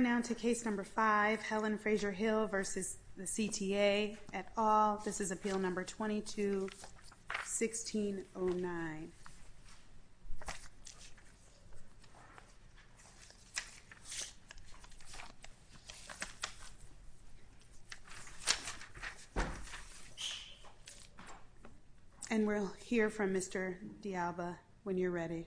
Now to Case No. 5, Helen Frazier-Hill v. CTA, et al. This is Appeal No. 22-1609. And we'll hear from Mr. D'Alba when you're ready.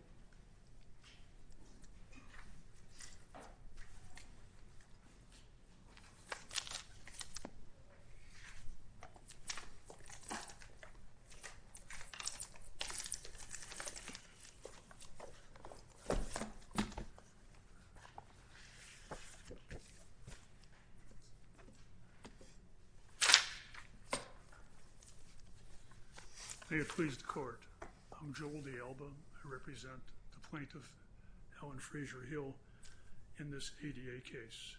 They have pleased the court. I'm Joel D'Alba. I represent the plaintiff, Helen Frazier-Hill, in this ADA case.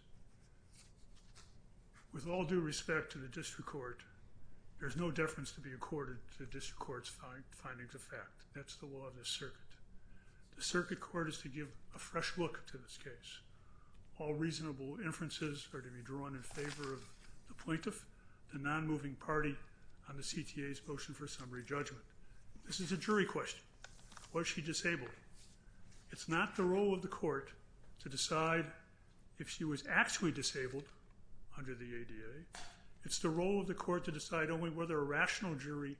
With all due respect to the district court, there's no deference to be accorded to district court's findings of fact. That's the law of this circuit. The circuit court is to give a fresh look to this case. All reasonable inferences are to be drawn in favor of the plaintiff, the non-moving party, on the CTA's motion for summary judgment. This is a jury question. Was she disabled? It's not the role of the court to decide if she was actually disabled under the ADA. It's the role of the court to decide only whether a rational jury,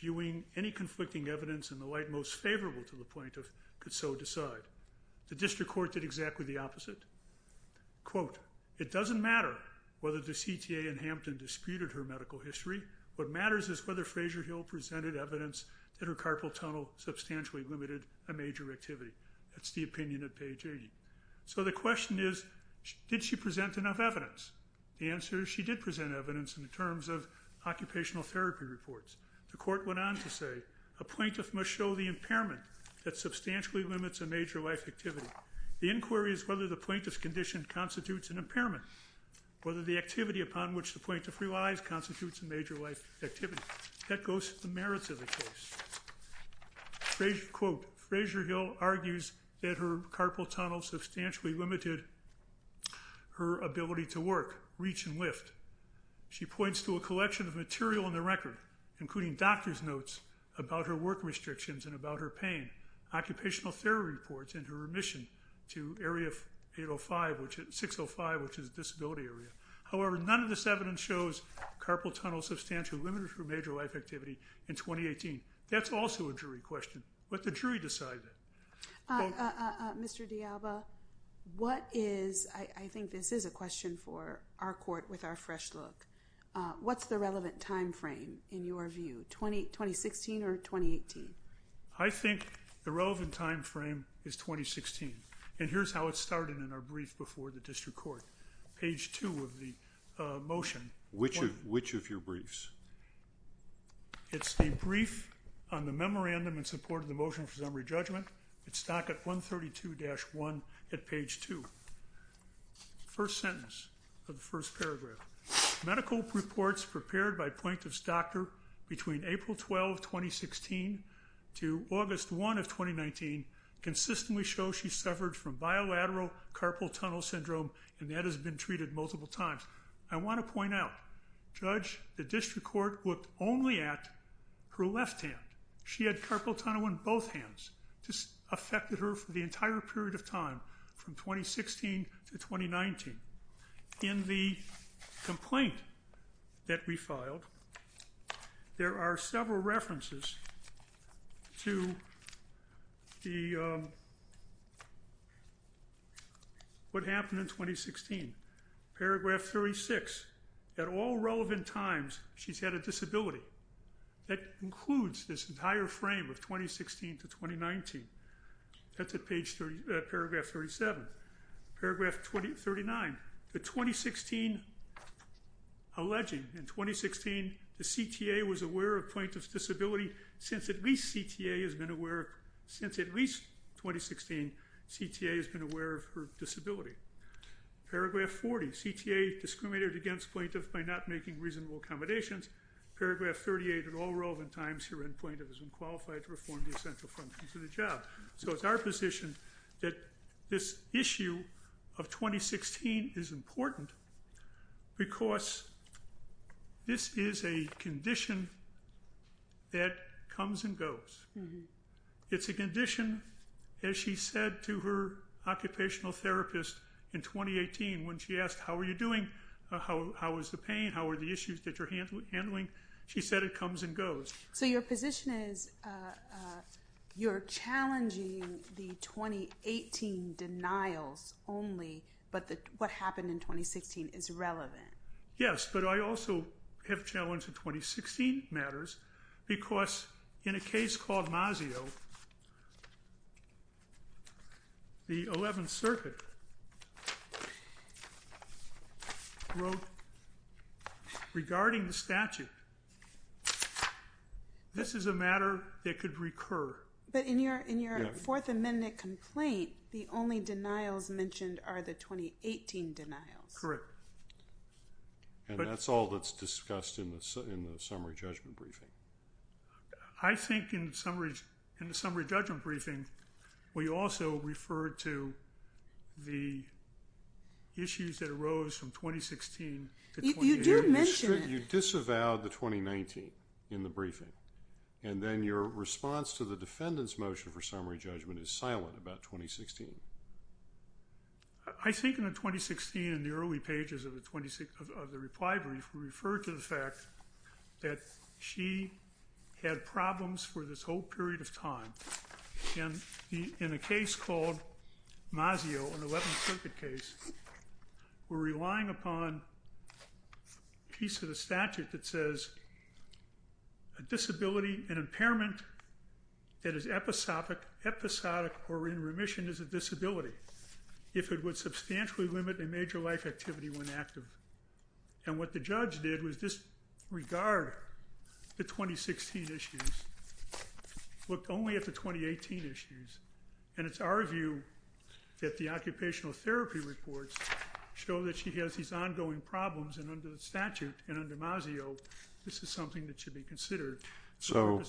viewing any conflicting evidence and the like most favorable to the plaintiff, could so decide. The district court did exactly the opposite. Quote, it doesn't matter whether the CTA and Hampton disputed her medical history. What matters is whether Frazier-Hill presented evidence that her carpal tunnel substantially limited a major activity. That's the opinion at page 80. So the question is, did she present enough evidence? The answer is she did present evidence in terms of occupational therapy reports. The court went on to say, a plaintiff must show the impairment that substantially limits a major life activity. The inquiry is whether the plaintiff's condition constitutes an impairment, whether the activity upon which the plaintiff relies constitutes a major life activity. That goes to the merits of the case. Quote, Frazier-Hill argues that her carpal tunnel substantially limited her ability to work, reach, and lift. She points to a collection of material in the record, including doctor's notes about her work restrictions and about her pain, occupational therapy reports, and her remission to area 605, which is a disability area. However, none of this evidence shows carpal tunnel substantially limited her major life activity in 2018. That's also a jury question. Let the jury decide that. Mr. DiAlba, what is, I think this is a question for our court with our fresh look. What's the relevant time frame in your view? 2016 or 2018? I think the relevant time frame is 2016. And here's how it started in our brief before the district court. Page 2 of the motion. Which of your briefs? It's the brief on the memorandum in support of the motion for summary judgment. It's docket 132-1 at page 2. First sentence of the first paragraph. Medical reports prepared by plaintiff's doctor between April 12, 2016 to August 1 of 2019 consistently show she suffered from bilateral carpal tunnel syndrome and that has been treated multiple times. I want to point out, Judge, the district court looked only at her left hand. She had carpal tunnel in both hands. This affected her for the entire period of time from 2016 to 2019. In the complaint that we filed, there are several references to what happened in 2016. Paragraph 36. At all relevant times, she's had a disability. That includes this entire frame of 2016 to 2019. That's at paragraph 37. Paragraph 39. The 2016 alleging, in 2016, the CTA was aware of plaintiff's disability since at least CTA has been aware, since at least 2016, CTA has been aware of her disability. Paragraph 40. CTA discriminated against plaintiff by not making reasonable accommodations. Paragraph 38. At all relevant times, her end plaintiff has been qualified to perform the essential functions of the job. So it's our position that this issue of 2016 is important because this is a condition that comes and goes. It's a condition, as she said to her occupational therapist in 2018 when she asked, how are you doing? How is the pain? How are the issues that you're handling? She said it comes and goes. So your position is you're challenging the 2018 denials only, but what happened in 2016 is relevant. Yes, but I also have challenged the 2016 matters because in a case called Masio, the 11th Circuit wrote regarding the statute, this is a matter that could recur. But in your Fourth Amendment complaint, the only denials mentioned are the 2018 denials. Correct. And that's all that's discussed in the summary judgment briefing. I think in the summary judgment briefing, we also referred to the issues that arose from 2016. You do mention it. You disavowed the 2019 in the briefing, and then your response to the defendant's motion for summary judgment is silent about 2016. I think in the 2016, in the early pages of the reply brief, we referred to the fact that she had problems for this whole period of time. In a case called Masio, an 11th Circuit case, we're relying upon a piece of the statute that says a disability, an impairment that is episodic or in remission is a disability if it would substantially limit a major life activity when active. And what the judge did was disregard the 2016 issues, looked only at the 2018 issues. And it's our view that the occupational therapy reports show that she has these ongoing problems and under the statute and under Masio, this is something that should be considered. So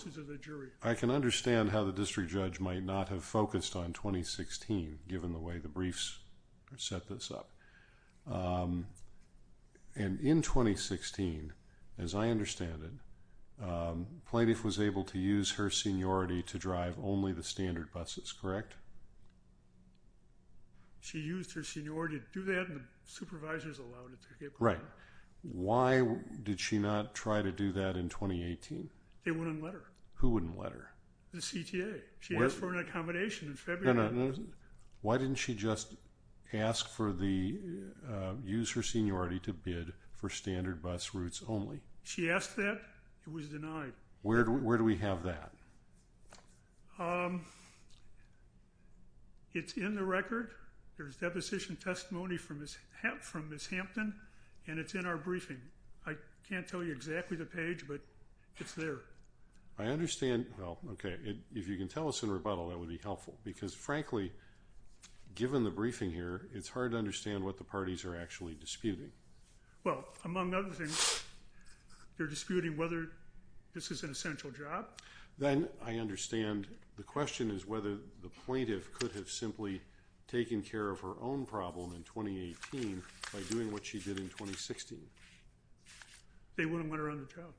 I can understand how the district judge might not have focused on 2016 given the way the briefs set this up. And in 2016, as I understand it, plaintiff was able to use her seniority to drive only the standard buses, correct? Correct. She used her seniority to do that and the supervisors allowed her to do that. Right. Why did she not try to do that in 2018? They wouldn't let her. Who wouldn't let her? The CTA. She asked for an accommodation in February. Why didn't she just ask for the, use her seniority to bid for standard bus routes only? She asked that. It was denied. Where do we have that? It's in the record. There's deposition testimony from Ms. Hampton and it's in our briefing. I can't tell you exactly the page, but it's there. I understand. Well, okay. If you can tell us in rebuttal, that would be helpful because frankly, given the briefing here, it's hard to understand what the parties are actually disputing. Well, among other things, they're disputing whether this is an essential job. Then I understand the question is whether the plaintiff could have simply taken care of her own problem in 2018 by doing what she did in 2016. They wouldn't want her on the job.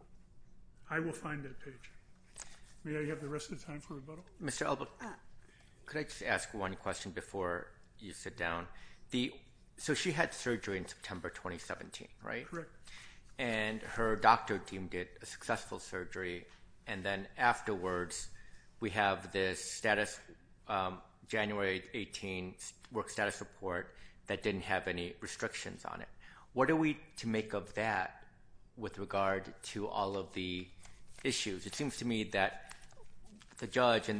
I will find that page. May I have the rest of the time for rebuttal? Mr. Elbow, could I just ask one question before you sit down? She had surgery in September 2017, right? Correct. Her doctor team did a successful surgery and then afterwards, we have this January 18 work status report that didn't have any restrictions on it. What are we to make of that with regard to all of the issues? It seems to me that the judge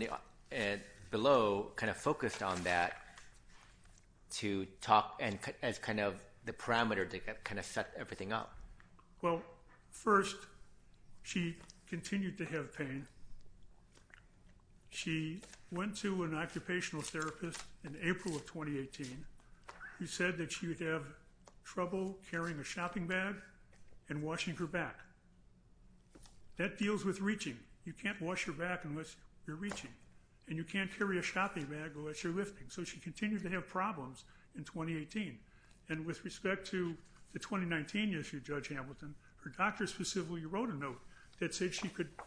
below focused on that to talk and as the parameter to set everything up. Well, first, she continued to have pain. She went to an occupational therapist in April of 2018 who said that she would have trouble carrying a shopping bag and washing her back. That deals with reaching. You can't wash your back unless you're reaching and you can't carry a shopping bag unless you're lifting. So she continued to have problems in 2018 and with respect to the 2019 issue, Judge Hamilton, her doctor specifically wrote a note that said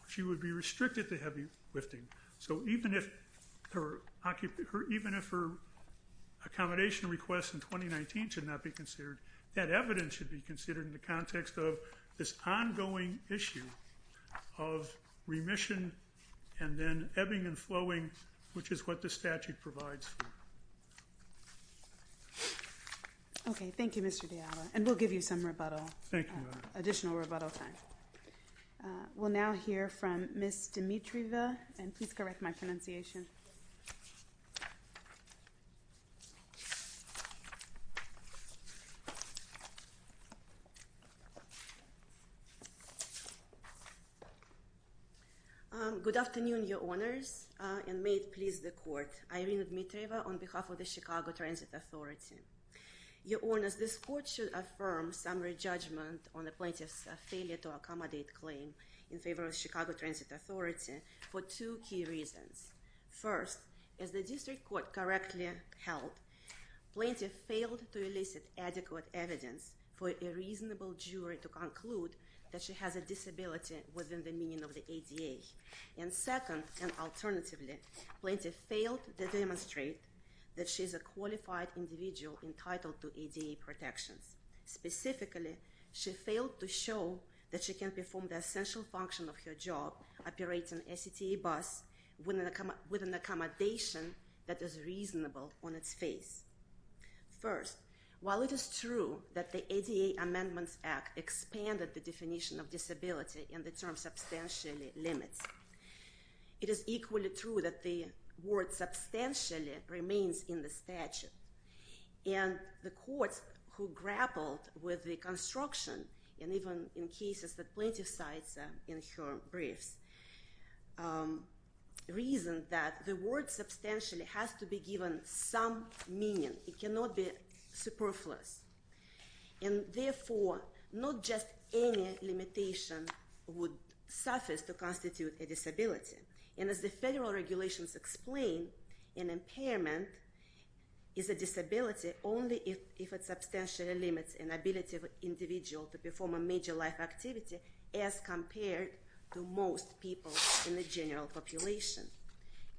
she would be restricted to heavy lifting. So even if her accommodation request in 2019 should not be considered, that evidence should be considered in the context of this ongoing issue of remission and then ebbing and flowing, which is what the statute provides for. Okay. Thank you, Mr. Diallo, and we'll give you some rebuttal, additional rebuttal time. We'll now hear from Ms. Dimitrieva, and please correct my pronunciation. Good afternoon, Your Honors, and may it please the Court. I am Irina Dimitrieva on behalf of the Chicago Transit Authority. Your Honors, this Court should affirm summary judgment on the plaintiff's failure to accommodate claim in favor of the Chicago Transit Authority for two key reasons. First, as the district court correctly held, plaintiff failed to elicit adequate evidence for a reasonable jury to conclude that she has a disability within the meaning of the ADA. And second, and alternatively, plaintiff failed to demonstrate that she is a qualified individual entitled to ADA protections. Specifically, she failed to show that she can perform the essential function of her job, operating a CTA bus with an accommodation that is reasonable on its face. First, while it is true that the ADA Amendments Act expanded the definition of disability and the term substantially limits, it is equally true that the word substantially remains in the statute. And the courts who grappled with the construction, and even in cases that plaintiff cites in her briefs, reasoned that the word substantially has to be given some meaning. It cannot be superfluous. And therefore, not just any limitation would suffice to constitute a disability. And as the federal regulations explain, an impairment is a disability only if it substantially limits an ability of an individual to perform a major life activity as compared to most people in the general population.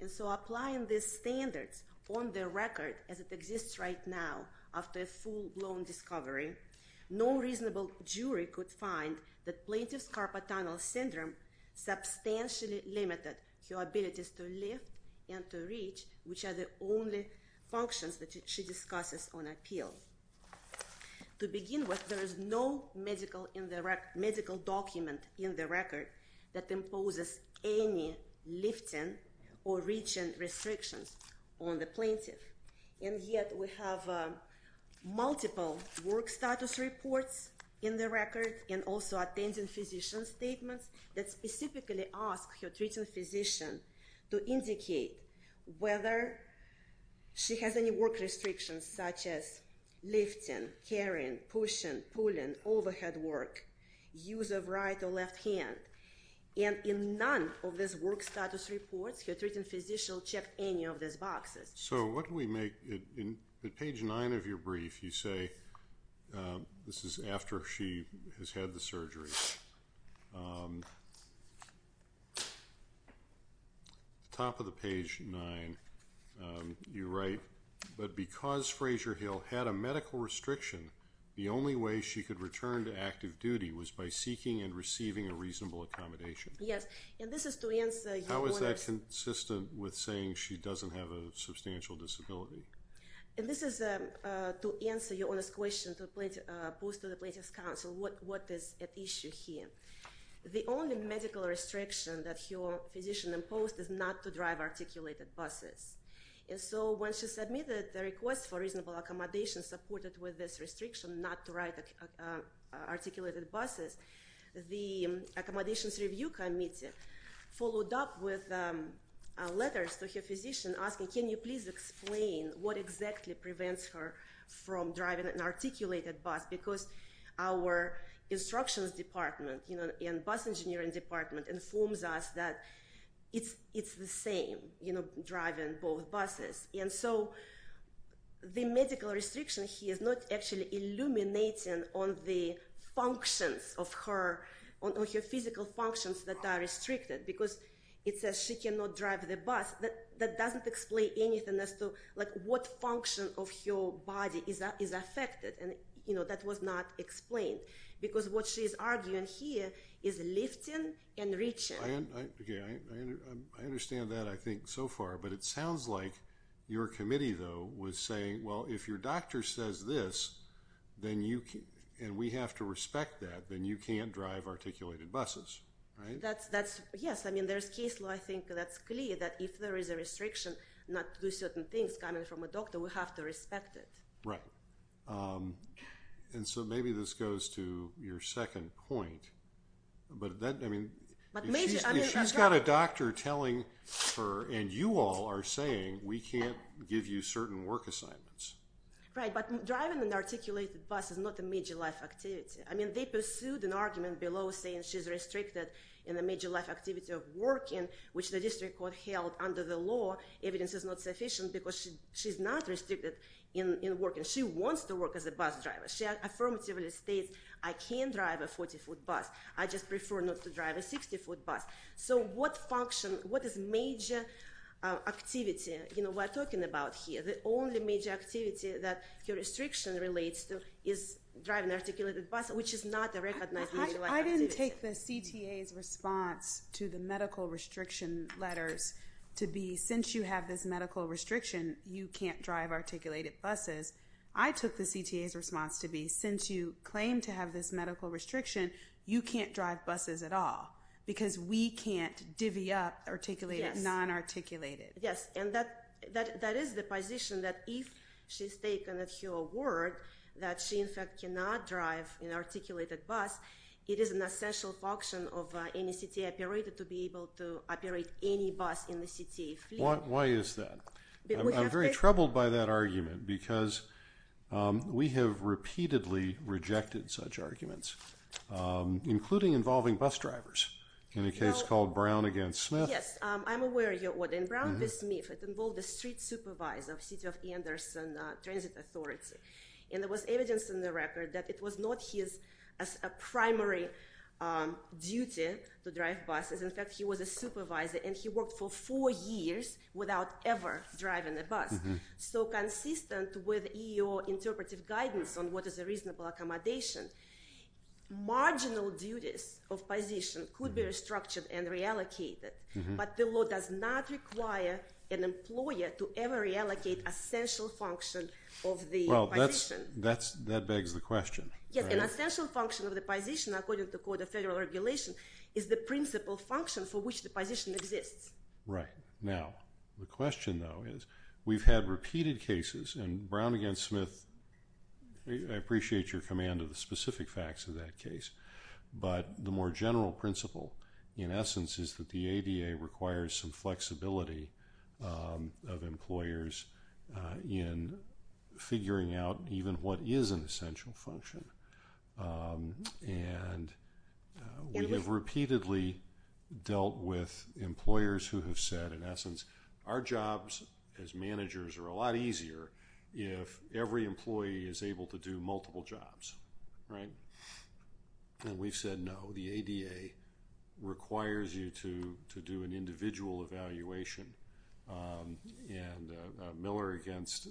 And so applying these standards on the record as it exists right now, after a full-blown discovery, no reasonable jury could find that plaintiff's carpal tunnel syndrome substantially limited her abilities to lift and to reach, which are the only functions that she discusses on appeal. To begin with, there is no medical document in the record that imposes any lifting or reaching restrictions on the plaintiff. And yet we have multiple work status reports in the record and also attending physician statements that specifically ask her treating physician to indicate whether she has any work restrictions such as lifting, carrying, pushing, pulling, overhead work, use of right or left hand. And in none of these work status reports, her treating physician checked any of these boxes. So what do we make? In page nine of your brief, you say this is after she has had the surgery. Top of the page nine, you write, but because Fraser Hill had a medical restriction, the only way she could return to active duty was by seeking and receiving a reasonable accommodation. Yes. And this is to answer... How is that consistent with saying she doesn't have a substantial disability? And this is to answer your honest question posed to the plaintiff's counsel, what is at issue here. The only medical restriction that your physician imposed is not to drive articulated buses. And so when she submitted the request for reasonable accommodation supported with this restriction, not to ride articulated buses, the Accommodations Review Committee followed up with letters to her physician asking, can you please explain what exactly prevents her from driving an articulated bus? Because our instructions department and bus engineering department informs us that it's the same, driving both buses. And so the medical restriction here is not actually illuminating on the functions of her physical functions that are restricted, because it says she cannot drive the bus. That doesn't explain anything as to what function of her body is affected. And that was not explained. Because what she's arguing here is lifting and reaching. I understand that, I think, so far. But it sounds like your committee, though, was saying, well, if your doctor says this, and we have to respect that, then you can't drive articulated buses. Right? Yes. I mean, there's case law, I think, that's clear that if there is a restriction not to do certain things coming from a doctor, we have to respect it. Right. And so maybe this goes to your second point. But if she's got a doctor telling her, and you all are saying, we can't give you certain work assignments. Right. But driving an articulated bus is not a major life activity. I mean, they pursued an argument below saying she's restricted in a major life activity of working, which the district court held under the law, evidence is not sufficient because she's not restricted in working. She wants to work as a bus driver. She affirmatively states, I can't drive a 40-foot bus. I just prefer not to drive a 60-foot bus. So what function, what is major activity we're talking about here? The only major activity that your restriction relates to is driving an articulated bus, which is not a recognized major life activity. I didn't take the CTA's response to the medical restriction letters to be, since you have this medical restriction, you can't drive articulated buses. I took the CTA's response to be, since you claim to have this medical restriction, you can't drive buses at all because we can't divvy up articulated, non-articulated. Yes. And that is the position that if she's taken at your word that she, in fact, cannot drive an articulated bus, it is an essential function of any CTA operator to be able to operate any bus in the CTA fleet. Why is that? I'm very troubled by that argument because we have repeatedly rejected such arguments, including involving bus drivers in a case called Brown against Smith. Yes. And I'm aware of your order. In Brown against Smith, it involved a street supervisor of City of Anderson Transit Authority. And there was evidence in the record that it was not his primary duty to drive buses. In fact, he was a supervisor and he worked for four years without ever driving a bus. So consistent with your interpretive guidance on what is a reasonable accommodation, marginal duties of position could be restructured and reallocated. But the law does not require an employer to ever reallocate essential function of the position. Well, that begs the question. Yes. An essential function of the position, according to Code of Federal Regulation, is the principal function for which the position exists. Right. Now, the question, though, is we've had repeated cases in Brown against Smith. I appreciate your command of the specific facts of that case. But the more general principle, in essence, is that the ADA requires some flexibility of employers in figuring out even what is an essential function. And we have repeatedly dealt with employers who have said, in essence, our jobs as managers are a lot easier if every employee is able to do multiple jobs. Right? And we've said, no. The ADA requires you to do an individual evaluation. And Miller against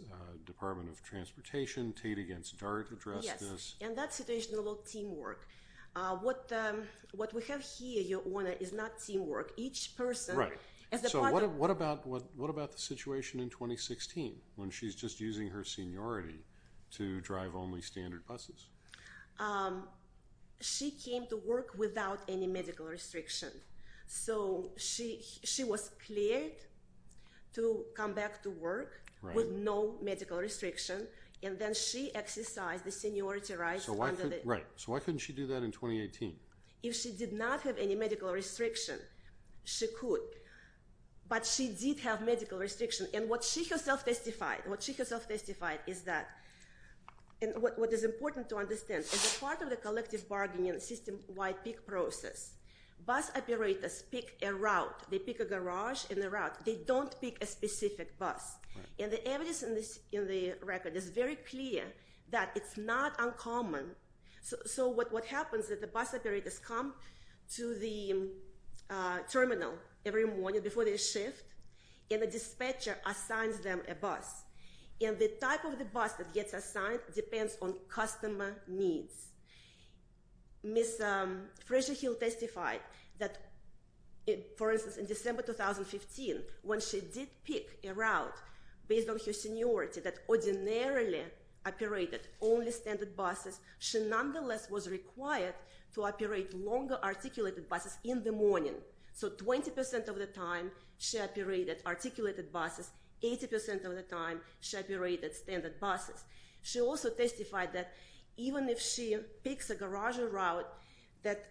Department of Transportation, Tate against Dart addressed this. Yes. And that situation, a lot of teamwork. What we have here, Your Honor, is not teamwork. Right. So what about the situation in 2016 when she's just using her seniority to drive only standard buses? She came to work without any medical restriction. So she was cleared to come back to work with no medical restriction. And then she exercised the seniority rights. Right. So why couldn't she do that in 2018? If she did not have any medical restriction, she could. But she did have medical restriction. And what she herself testified is that, and what is important to understand, as a part of the collective bargaining and system-wide pick process, bus operators pick a route. They pick a garage and a route. They don't pick a specific bus. And the evidence in the record is very clear that it's not uncommon. So what happens is the bus operators come to the terminal every morning before they shift, and the dispatcher assigns them a bus. And the type of the bus that gets assigned depends on customer needs. Ms. Fraser-Hill testified that, for instance, in December 2015, when she did pick a route based on her seniority that ordinarily operated only standard buses, she nonetheless was required to operate longer articulated buses in the morning. So 20% of the time she operated articulated buses, 80% of the time she operated standard buses. She also testified that even if she picks a garage or route that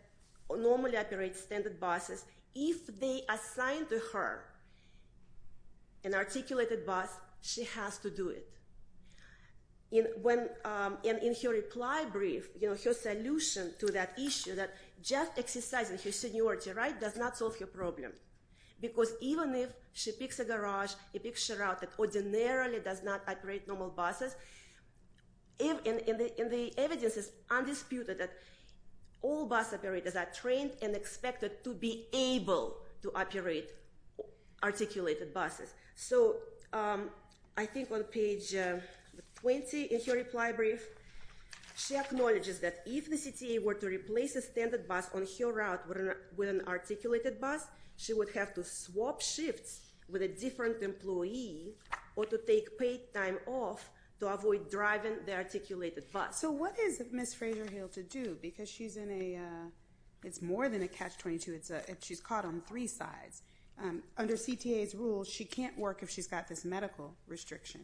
normally operates standard buses, if they assign to her an articulated bus, she has to do it. And in her reply brief, her solution to that issue, that just exercising her seniority, right, does not solve her problem. Because even if she picks a garage, she picks a route that ordinarily does not operate normal buses, and the evidence is undisputed that all bus operators are trained and expected to be able to operate articulated buses. So I think on page 20 in her reply brief, she acknowledges that if the CTA were to replace a standard bus on her route with an articulated bus, she would have to swap shifts with a different employee or to take paid time off to avoid driving the articulated bus. So what is Ms. Fraser-Hill to do? Because she's in a, it's more than a catch-22. She's caught on three sides. Under CTA's rules, she can't work if she's got this medical restriction,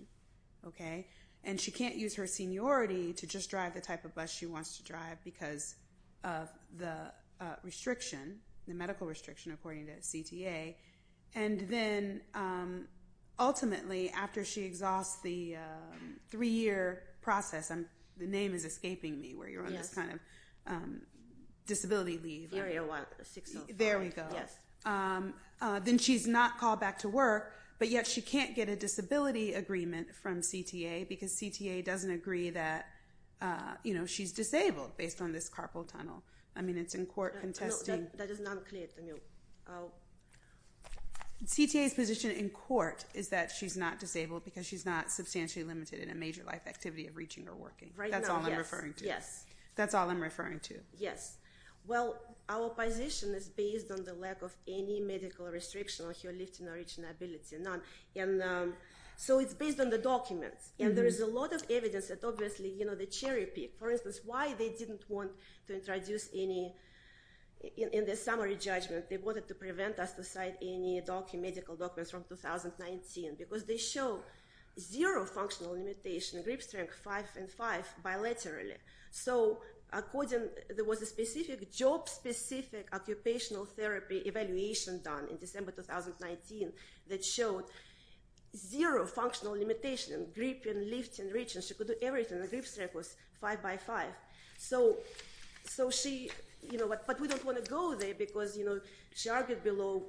okay? And she can't use her seniority to just drive the type of bus she wants to drive because of the restriction, the medical restriction according to CTA. And then ultimately, after she exhausts the three-year process, the name is escaping me where you're on this kind of disability leave. Area 605. There we go. Yes. Then she's not called back to work, but yet she can't get a disability agreement from CTA because CTA doesn't agree that she's disabled based on this carpal tunnel. I mean, it's in court contesting. No, that is not clear to me. CTA's position in court is that she's not disabled because she's not substantially limited in a major life activity of reaching or working. Right now, yes. That's all I'm referring to. Yes. That's all I'm referring to. Yes. Well, our position is based on the lack of any medical restriction on her lifting or reaching ability, none. And so it's based on the documents. And there is a lot of evidence that obviously, you know, the cherry pick, for instance, why they didn't want to introduce any in the summary judgment. They wanted to prevent us to cite any medical documents from 2019 because they show zero functional limitation, grip strength five and five bilaterally. So according, there was a specific job specific occupational therapy evaluation done in December 2019 that showed zero functional limitation, gripping, lifting, reaching. She could do everything. The grip strength was five by five. So she, you know, but we don't want to go there because, you know, she argued below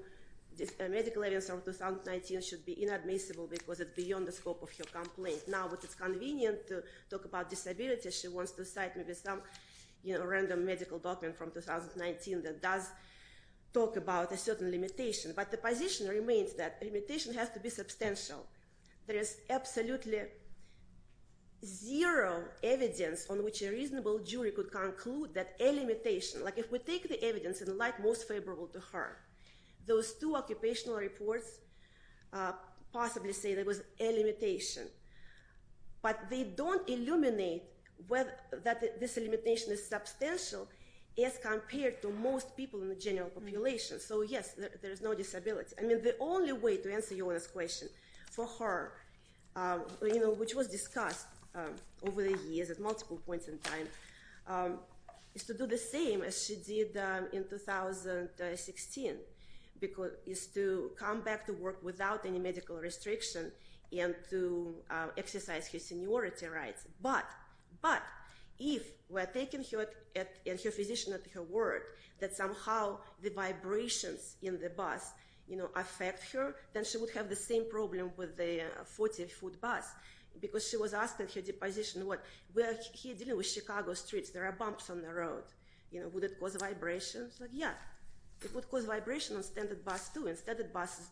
medical evidence from 2019 should be inadmissible because it's beyond the scope of her complaint. Now it's convenient to talk about disability. She wants to cite maybe some, you know, random medical document from 2019 that does talk about a certain limitation. But the position remains that limitation has to be substantial. There is absolutely zero evidence on which a reasonable jury could conclude that a limitation, like if we take the evidence and like most favorable to her, those two occupational reports possibly say there was a limitation. But they don't illuminate that this limitation is substantial as compared to most people in the general population. So yes, there is no disability. I mean, the only way to answer Yolanda's question for her, you know, which was discussed over the years at multiple points in time, is to do the same as she did in 2016, is to come back to work without any medical restriction and to exercise her seniority rights. But if we're taking her physician at her word that somehow the vibrations in the bus, you know, affect her, then she would have the same problem with the 40-foot bus because she was asked at her deposition, what, we're here dealing with Chicago streets. There are bumps on the road. You know, would it cause vibrations? Yeah. It would cause vibration on standard bus too.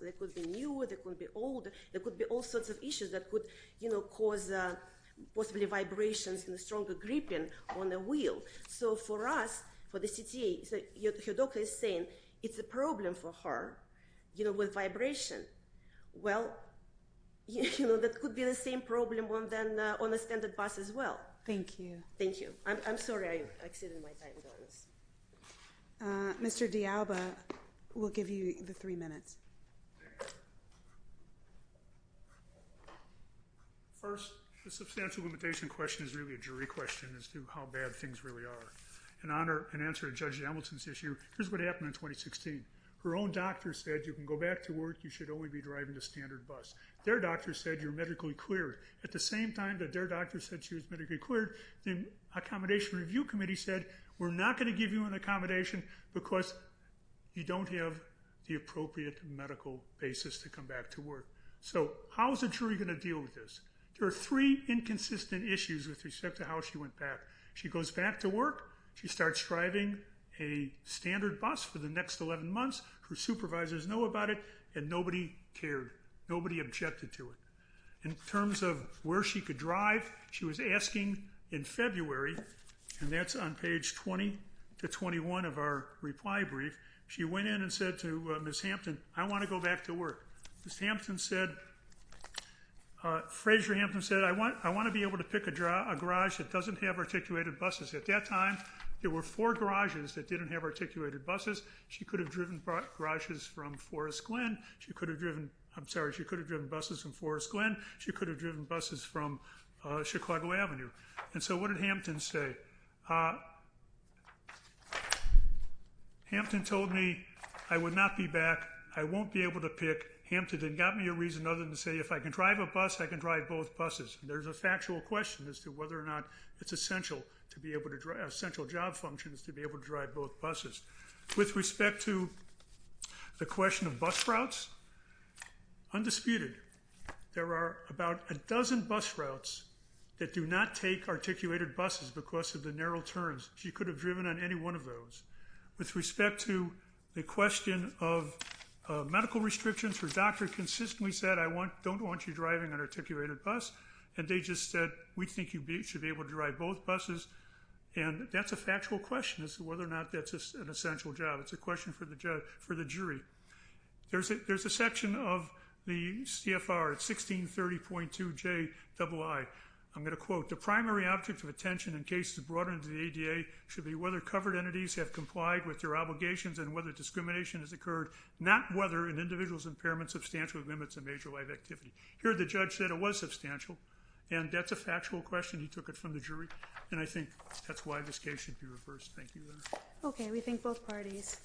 They could be new. They could be old. There could be all sorts of issues that could, you know, cause possibly vibrations and stronger gripping on the wheel. So for us, for the CTA, your doctor is saying it's a problem for her, you know, with vibration. Well, you know, that could be the same problem on the standard bus as well. Thank you. Thank you. I'm sorry I exceeded my time, though. Mr. D'Alba will give you the three minutes. First, the substantial limitation question is really a jury question as to how bad things really are. In answer to Judge Hamilton's issue, here's what happened in 2016. Her own doctor said you can go back to work. You should only be driving the standard bus. Their doctor said you're medically cleared. At the same time that their doctor said she was medically cleared, the Accommodation Review Committee said, we're not going to give you an accommodation because you don't have the appropriate medical basis to come back to work. So how is a jury going to deal with this? There are three inconsistent issues with respect to how she went back. She goes back to work. She starts driving a standard bus for the next 11 months. Her supervisors know about it, and nobody cared. Nobody objected to it. In terms of where she could drive, she was asking in February, and that's on page 20 to 21 of our reply brief, she went in and said to Ms. Hampton, I want to go back to work. Ms. Hampton said, Frasier Hampton said, I want to be able to pick a garage that doesn't have articulated buses. At that time, there were four garages that didn't have articulated buses. She could have driven garages from Forest Glen. She could have driven, I'm sorry, she could have driven buses from Forest Glen. She could have driven buses from Chicago Avenue. And so what did Hampton say? Hampton told me, I would not be back. I won't be able to pick. Hampton didn't give me a reason other than to say, if I can drive a bus, I can drive both buses. There's a factual question as to whether or not it's essential to be able to drive, essential job function is to be able to drive both buses. With respect to the question of bus routes, undisputed, there are about a dozen bus routes that do not take articulated buses because of the narrow turns. She could have driven on any one of those. With respect to the question of medical restrictions, her doctor consistently said, I don't want you driving an articulated bus. And they just said, we think you should be able to drive both buses. And that's a factual question as to whether or not that's an essential job. It's a question for the jury. There's a section of the CFR, 1630.2JII. I'm going to quote, The primary object of attention in cases brought under the ADA should be whether covered entities have complied with their obligations and whether discrimination has occurred, not whether an individual's impairment substantially limits a major life activity. Here the judge said it was substantial, and that's a factual question. He took it from the jury. And I think that's why this case should be reversed. Thank you. Okay. We think both parties.